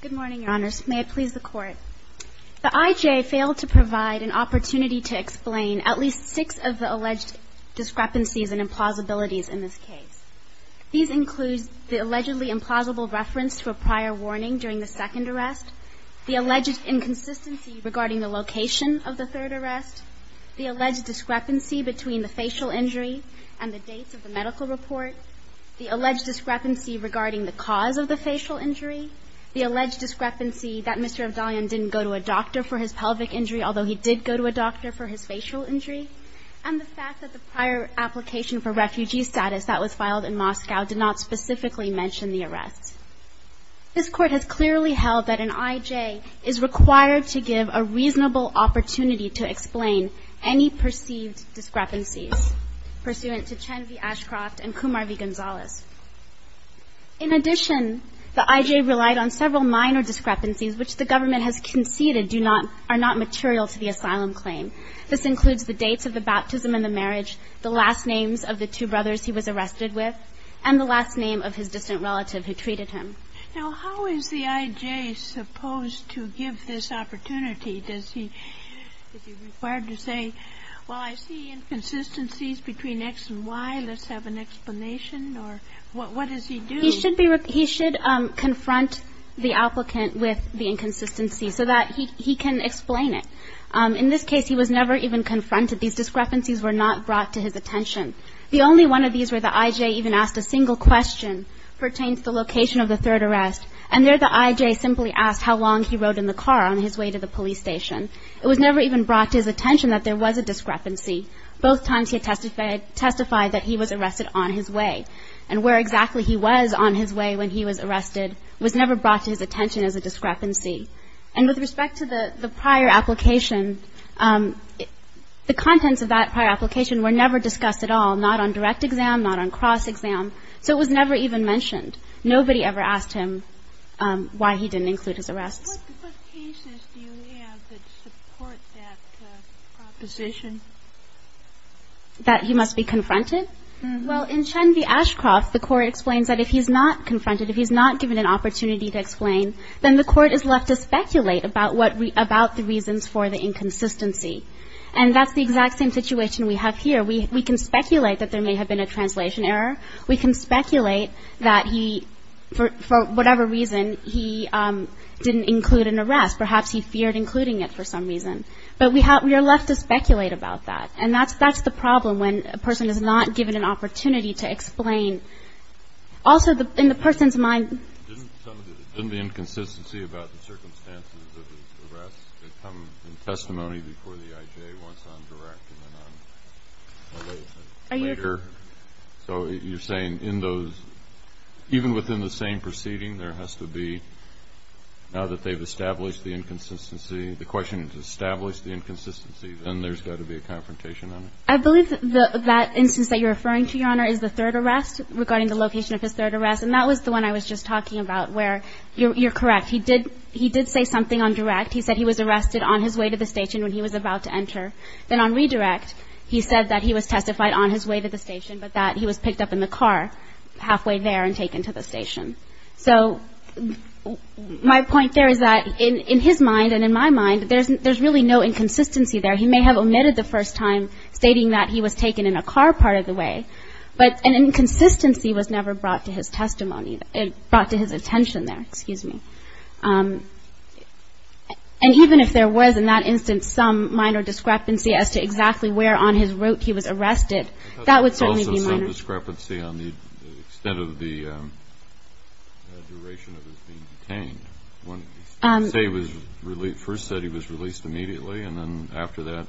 Good morning, Your Honors. May it please the Court. The IJ failed to provide an opportunity to explain at least six of the alleged discrepancies and implausibilities in this case. These include the allegedly implausible reference to a prior warning during the second arrest, the alleged inconsistency regarding the location of the third arrest, the alleged discrepancy between the facial injury and the dates of the medical report, the alleged discrepancy regarding the cause of the facial injury, the alleged discrepancy that Mr. Avdalyan didn't go to a doctor for his pelvic injury, although he did go to a doctor for his facial injury, and the fact that the prior application for refugee status that was filed in Moscow did not specifically mention the arrest. This Court has clearly held that an IJ is required to give a reasonable opportunity to explain any perceived discrepancies pursuant to Chen v. Ashcroft and Kumar v. Gonzales. In addition, the IJ relied on several minor discrepancies which the government has conceded do not – are not material to the asylum claim. This includes the dates of the baptism and the marriage, the last names of the two brothers he was arrested with, and the last name of his distant mother. The IJ is not required to say, well, I see inconsistencies between X and Y, let's have an explanation, or what does he do? He should confront the applicant with the inconsistency so that he can explain it. In this case, he was never even confronted. These discrepancies were not brought to his attention. The only one of these where the IJ even asked a single question pertains to the location of the third arrest, and there the IJ simply asked how long he rode in the car on his way to the police station. It was never even brought to his attention that there was a discrepancy. Both times he had testified that he was arrested on his way, and where exactly he was on his way when he was arrested was never brought to his attention as a discrepancy. And with respect to the prior application, the contents of that prior application were never discussed at all, not on direct exam, not on cross exam, so it was never even mentioned. Nobody ever asked him why he didn't include his arrests. What cases do you have that support that proposition? That he must be confronted? Well, in Chen v. Ashcroft, the Court explains that if he's not confronted, if he's not given an opportunity to explain, then the Court is left to speculate about what we – about the reasons for the inconsistency. And that's the exact same situation we have here. We can speculate that there may have been a translation error. We can speculate that he, for whatever reason, he didn't include his arrests or include an arrest. Perhaps he feared including it for some reason. But we are left to speculate about that. And that's the problem when a person is not given an opportunity to explain. Also, in the person's mind – Didn't some of the – didn't the inconsistency about the circumstances of his arrest come in testimony before the I.J. once on direct and then on – later? Are you – So you're saying in those – even within the same proceeding, there has to be – now that they've established the inconsistency, the question is establish the inconsistency, then there's got to be a confrontation on it? I believe that that instance that you're referring to, Your Honor, is the third arrest regarding the location of his third arrest. And that was the one I was just talking about where you're correct. He did say something on direct. He said he was arrested on his way to the station when he was about to enter. Then on redirect, he said that he was testified on his way to the station, but that he was picked up in the car halfway there and taken to the station. So my point there is that in his mind and in my mind, there's really no inconsistency there. He may have omitted the first time, stating that he was taken in a car part of the way, but an inconsistency was never brought to his testimony – brought to his attention there, excuse me. And even if there was in that instance some minor discrepancy as to exactly where on his route he was arrested, that would certainly be minor. Was there some discrepancy on the extent of the duration of his being detained? Say he was released – first said he was released immediately, and then after that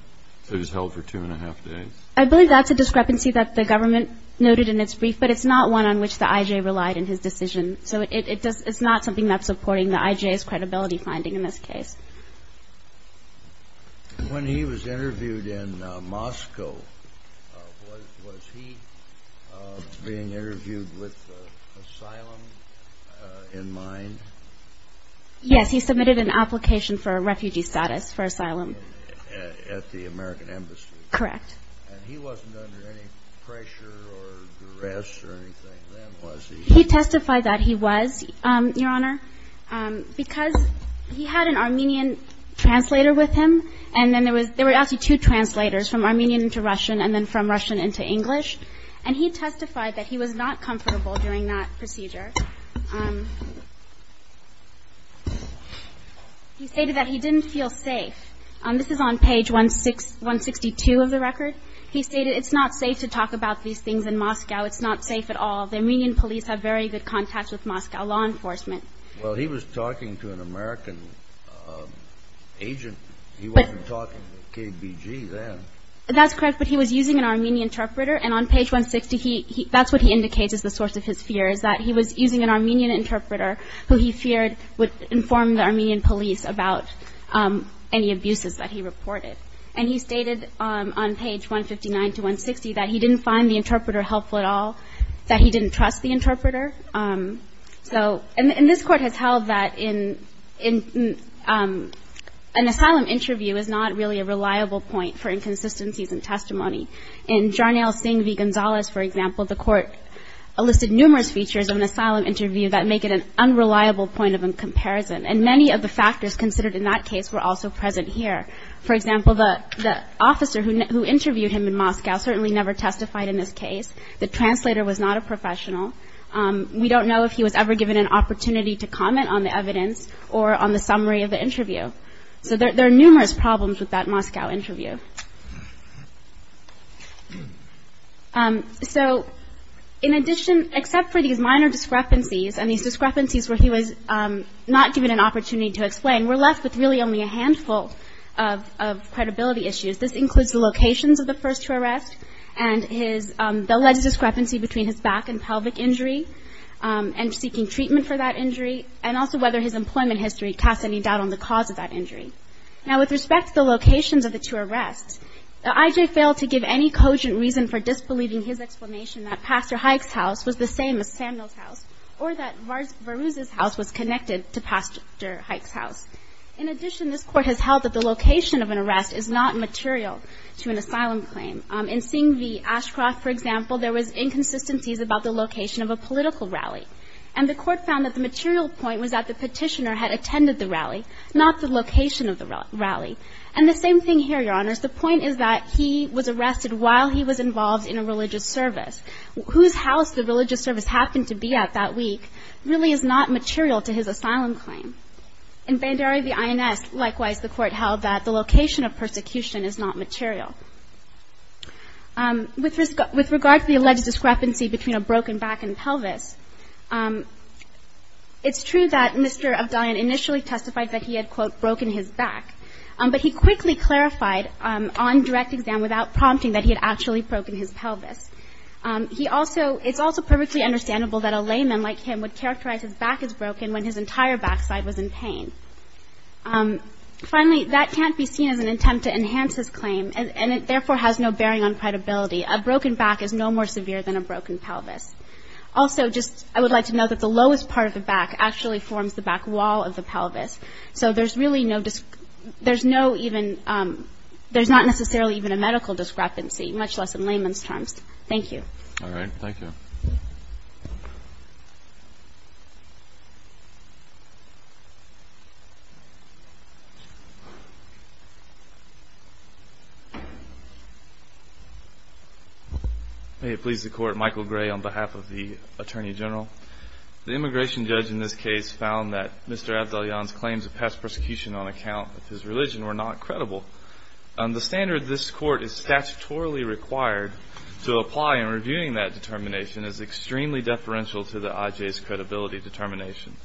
he was held for two and a half days. I believe that's a discrepancy that the government noted in its brief, but it's not one on which the I.J. relied in his decision. So it's not something that's supporting the I.J.'s credibility finding in this case. When he was interviewed in Moscow, was he being interviewed with asylum in mind? Yes, he submitted an application for a refugee status for asylum. At the American Embassy? Correct. And he wasn't under any pressure or duress or anything then, was he? He testified that he was, Your Honor, because he had an Armenian translator with him, and then there were actually two translators, from Armenian to Russian, and then from Russian into English. And he testified that he was not comfortable during that procedure. He stated that he didn't feel safe. This is on page 162 of the record. He stated it's not safe to talk about these very good contacts with Moscow law enforcement. Well, he was talking to an American agent. He wasn't talking to KBG then. That's correct, but he was using an Armenian interpreter, and on page 160, that's what he indicates as the source of his fear, is that he was using an Armenian interpreter who he feared would inform the Armenian police about any abuses that he reported. And he stated on page 159 to 160 that he didn't find the interpreter helpful at all, that he didn't trust the interpreter. And this Court has held that an asylum interview is not really a reliable point for inconsistencies in testimony. In Jarnail Singh v. Gonzales, for example, the Court listed numerous features of an asylum interview that make it an unreliable point of comparison, and many of the factors considered in that case were also present here. For example, the officer who interviewed him in Moscow certainly never testified in this case. The translator was not a professional. We don't know if he was ever given an opportunity to comment on the evidence or on the summary of the interview. So there are numerous problems with that Moscow interview. So in addition, except for these minor discrepancies, and these discrepancies where he was not given an opportunity to explain, we're left with really only a handful of credibility issues. This includes the locations of the first two arrests, and the alleged discrepancy between his back and pelvic injury, and seeking treatment for that injury, and also whether his employment history casts any doubt on the cause of that injury. Now, with respect to the locations of the two arrests, I.J. failed to give any cogent reason for disbelieving his explanation that Pastor Hayek's house was the same as Samuel's house, or that Varuz's house was connected to Pastor Hayek's house. In addition, this Court has held that the location of an arrest is not material to an asylum claim. In Singh v. Ashcroft, for example, there was inconsistencies about the location of a political rally. And the Court found that the material point was that the petitioner had attended the rally, not the location of the rally. And the same thing here, Your Honors. The point is that he was arrested while he was involved in a religious service. Whose house the religious service happened to be at that week really is not material to his asylum claim. In Banderi v. INS, likewise, the Court held that the location of persecution is not material. With regard to the alleged discrepancy between a broken back and pelvis, it's true that Mr. Abdalion initially testified that he had, quote, broken his back. But he quickly clarified on direct exam without prompting that he had actually broken his pelvis. He also, it's also perfectly understandable that a layman like him would characterize his back as broken when his entire backside was in pain. Finally, that can't be seen as an attempt to enhance his claim, and it therefore has no bearing on credibility. A broken back is no more severe than a broken pelvis. Also, just, I would like to note that the lowest part of the back actually forms the back wall of the pelvis. So there's really no, there's no even, there's not necessarily even a medical discrepancy, much less in layman's terms. Thank you. Thank you. May it please the Court. Michael Gray on behalf of the Attorney General. The immigration judge in this case found that Mr. Abdalion's claims of past persecution on account of his religion were not credible. The standard this Court is statutorily required to apply in reviewing that determination is extremely deferential to the IJ's credibility determination.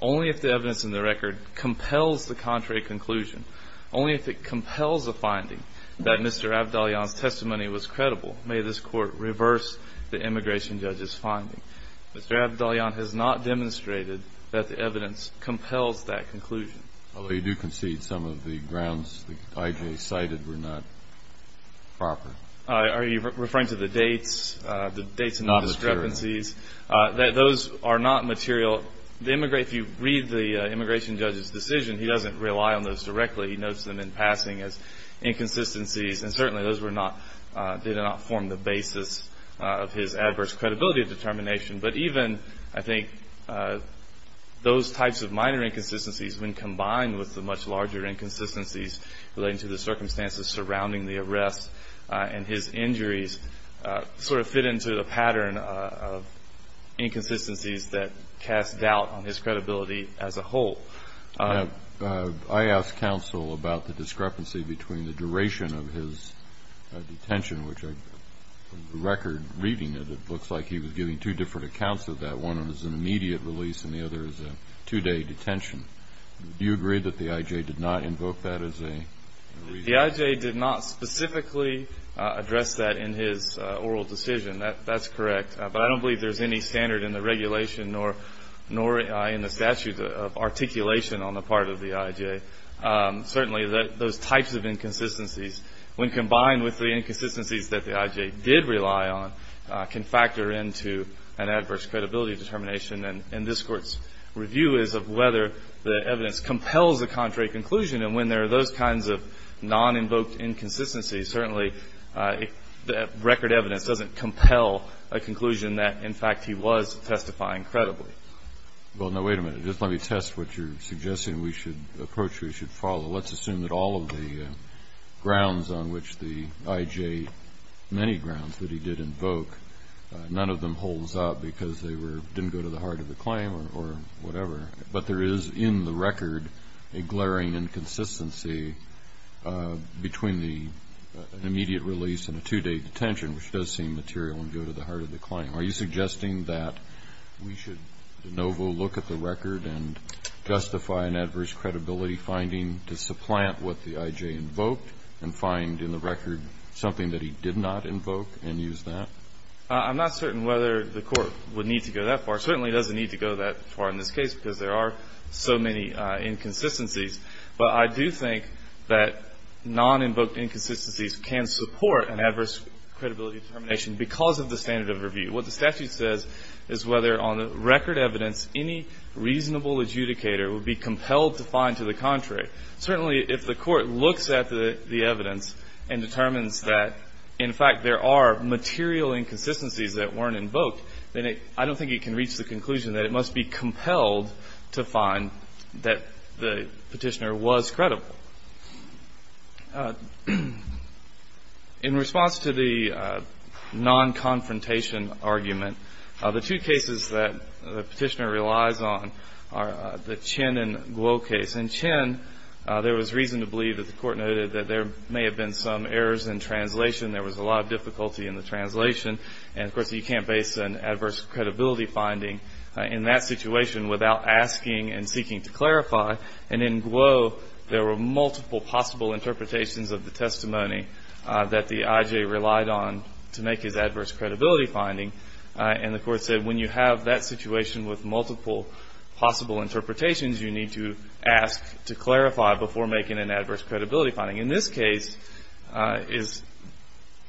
Only if the evidence in the record confirms that Mr. Abdalion's claims of past persecution compels the contrary conclusion. Only if it compels the finding that Mr. Abdalion's testimony was credible may this Court reverse the immigration judge's finding. Mr. Abdalion has not demonstrated that the evidence compels that conclusion. Although you do concede some of the grounds the IJ cited were not proper. Are you referring to the dates, the dates and discrepancies? Not material. Those are not material. If you read the immigration judge's decision he doesn't rely on those directly. He notes them in passing as inconsistencies and certainly those did not form the basis of his adverse credibility determination. But even I think those types of minor inconsistencies when combined with the much larger inconsistencies relating to the circumstances surrounding the arrest and his injuries sort of fit into the pattern of past doubt on his credibility as a whole. I asked counsel about the discrepancy between the duration of his detention, which from the record reading it looks like he was giving two different accounts of that. One was an immediate release and the other was a two-day detention. Do you agree that the IJ did not invoke that as a reason? The IJ did not specifically address that in his oral decision. That's correct. But I don't believe there's any standard in the regulation nor in the statute of articulation on the part of the IJ. Certainly those types of inconsistencies when combined with the inconsistencies that the IJ did rely on can factor into an adverse credibility determination and this Court's review is of whether the evidence compels a contrary conclusion and when there are those kinds of non-invoked inconsistencies certainly record evidence doesn't compel a conclusion that in fact he was testifying credibly. Well, now wait a minute. Just let me test what you're suggesting we should approach or we should follow. Let's assume that all of the grounds on which the IJ, many grounds that he did invoke, none of them holds up because they didn't go to the heart of the claim or whatever but there is in the record a glaring inconsistency between the immediate release and a two-day detention which does seem material and go to the heart of the claim. Are you suggesting that we should de novo look at the record and justify an adverse credibility finding to supplant what the IJ invoked and find in the record something that he did not invoke and use that? I'm not certain whether the Court would need to go that far. It certainly doesn't need to go that far in this case because there are so many inconsistencies but I do think that non-invoked inconsistencies can support an adverse credibility determination because of the standard of review. What the statute says is whether on the record evidence any reasonable adjudicator would be compelled to find to the contrary. Certainly if the Court looks at the evidence and determines that in fact there are material inconsistencies that weren't invoked then I don't think it can reach the conclusion that it must be compelled to find that the Petitioner was credible. In response to the non-confrontation argument the two cases that the Petitioner relies on are the Chin and Guo case. In Chin there was reason to believe that the Court noted that there may have been some errors in translation. There was a lot of difficulty in the translation and of course you can't base an adverse credibility finding in that situation without asking and seeking to clarify and in Guo there were multiple possible interpretations of the testimony that the IJ relied on to make his adverse credibility finding and the Court said when you have that situation with multiple possible interpretations you need to ask to clarify before making an adverse credibility finding. In this case it's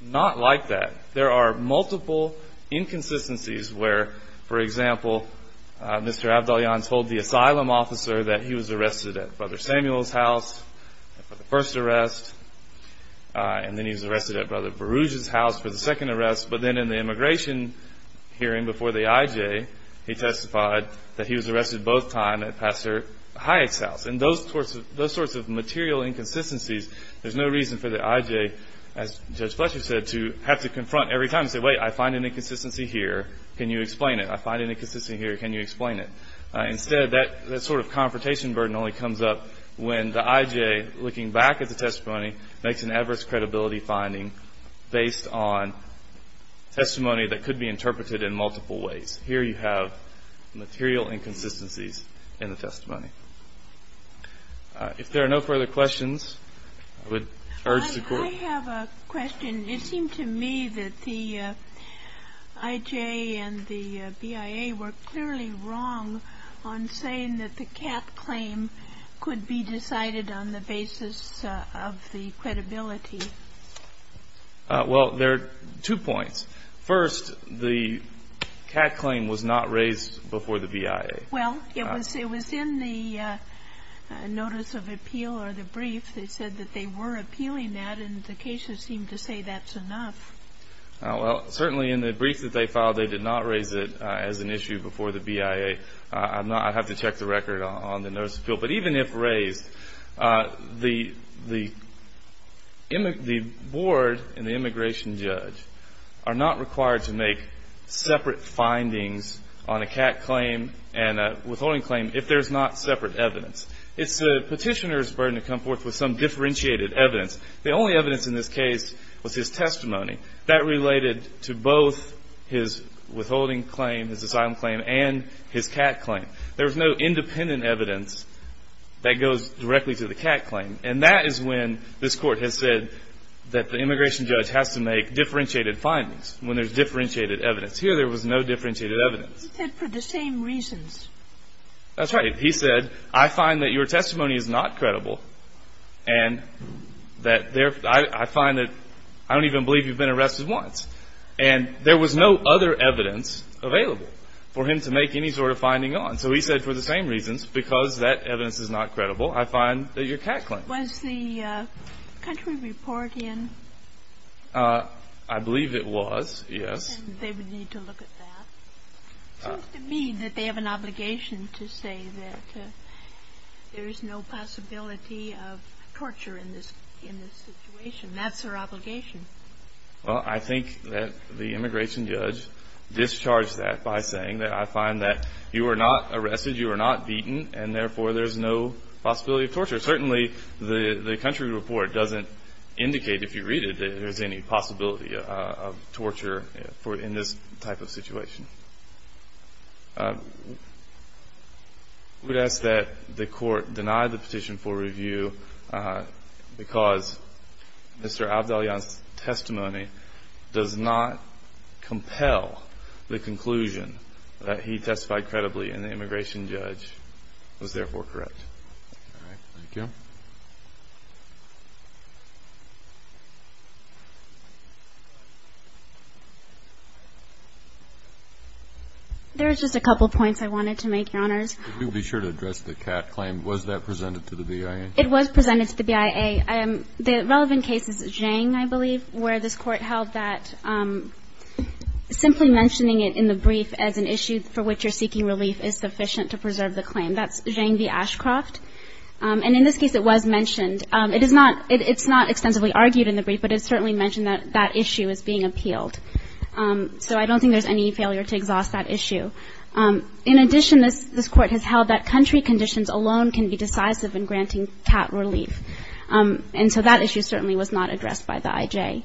not like that. There are multiple inconsistencies where for example Mr. Abdalyan told the asylum officer that he was arrested at Brother Samuel's house for the first arrest and then he was arrested at Brother Baruj's house for the second arrest but then in the immigration hearing before the IJ he testified that he was arrested both times at Pastor Hayek's house and those sorts of material inconsistencies there's no reason for the IJ as Judge Fletcher said to have to confront every time and say wait I find an inconsistency here can you explain it? Instead that sort of confrontation burden only comes up when the IJ looking back at the testimony makes an adverse credibility finding based on testimony that could be interpreted in multiple ways. Here you have material inconsistencies in the testimony. If there are no further questions I would urge the Court. I have a question. It seemed to me that the IJ and the BIA were clearly wrong on saying that the CAT claim could be decided on the basis of the credibility. Well there are two points. First the CAT claim was not raised before the BIA. Well it was in the notice of appeal or the brief they said that they were appealing that and the cases seem to say that's enough. Well certainly in the brief that they filed they did not raise it as an issue before the BIA. I'd have to check the record on the notice of appeal but even if raised the board and the immigration judge are not required to make separate findings on a CAT claim and a withholding claim if there's not separate evidence. It's the petitioner's burden to come forth with some differentiated evidence. The only evidence in this case was his testimony. That related to both his withholding claim, his asylum claim and his CAT claim. There's no independent evidence that goes directly to the CAT claim and that is when this Court has said that the immigration judge has to make differentiated findings when there's differentiated evidence. Here there was no differentiated evidence. He said for the same reasons. That's right. He said I find that your testimony is not credible and that I find that I don't even believe you've been arrested once and there was no other evidence available for him to make any sort of finding on. So he said for the same reasons because that evidence is not credible I find that your CAT claim. Was the country report in? I believe it was. Yes. They would need to look at that. It seems to me that they have an obligation to say that there is no possibility of torture in this situation. That's their obligation. Well I think that the immigration judge discharged that by saying that I find that you are not arrested you are not beaten and therefore there's no possibility of torture. Certainly the country report doesn't indicate if you read it that there's any possibility of torture in this type of situation. I would ask that the court deny the petition for review because Mr. Abdalyan's testimony does not compel the conclusion that he testified credibly and the immigration judge was therefore correct. Thank you. There's just a couple points I wanted to make, Your Honors. It was presented to the BIA. The relevant case is Zhang, I believe, where this court held that simply mentioning it in the brief as an issue for which you're seeking relief is sufficient to preserve the claim. That's Zhang v. Ashcroft. And in this case it was mentioned. It is not extensively argued in the brief but it's certainly mentioned that that issue is being appealed. So I don't think there's any failure to exhaust that issue. In addition, this court has held that country conditions alone can be decisive in granting cat relief. And so that issue certainly was not addressed by the IJ.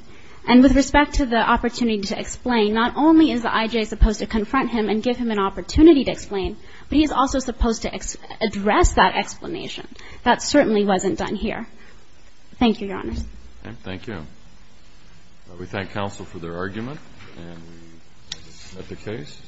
And with respect to the opportunity to explain, not only is the IJ supposed to confront him and give him an opportunity to explain but he is also supposed to address that explanation. That certainly wasn't done here. Thank you, Your Honors. Thank you. We thank counsel for their argument. And we end the case.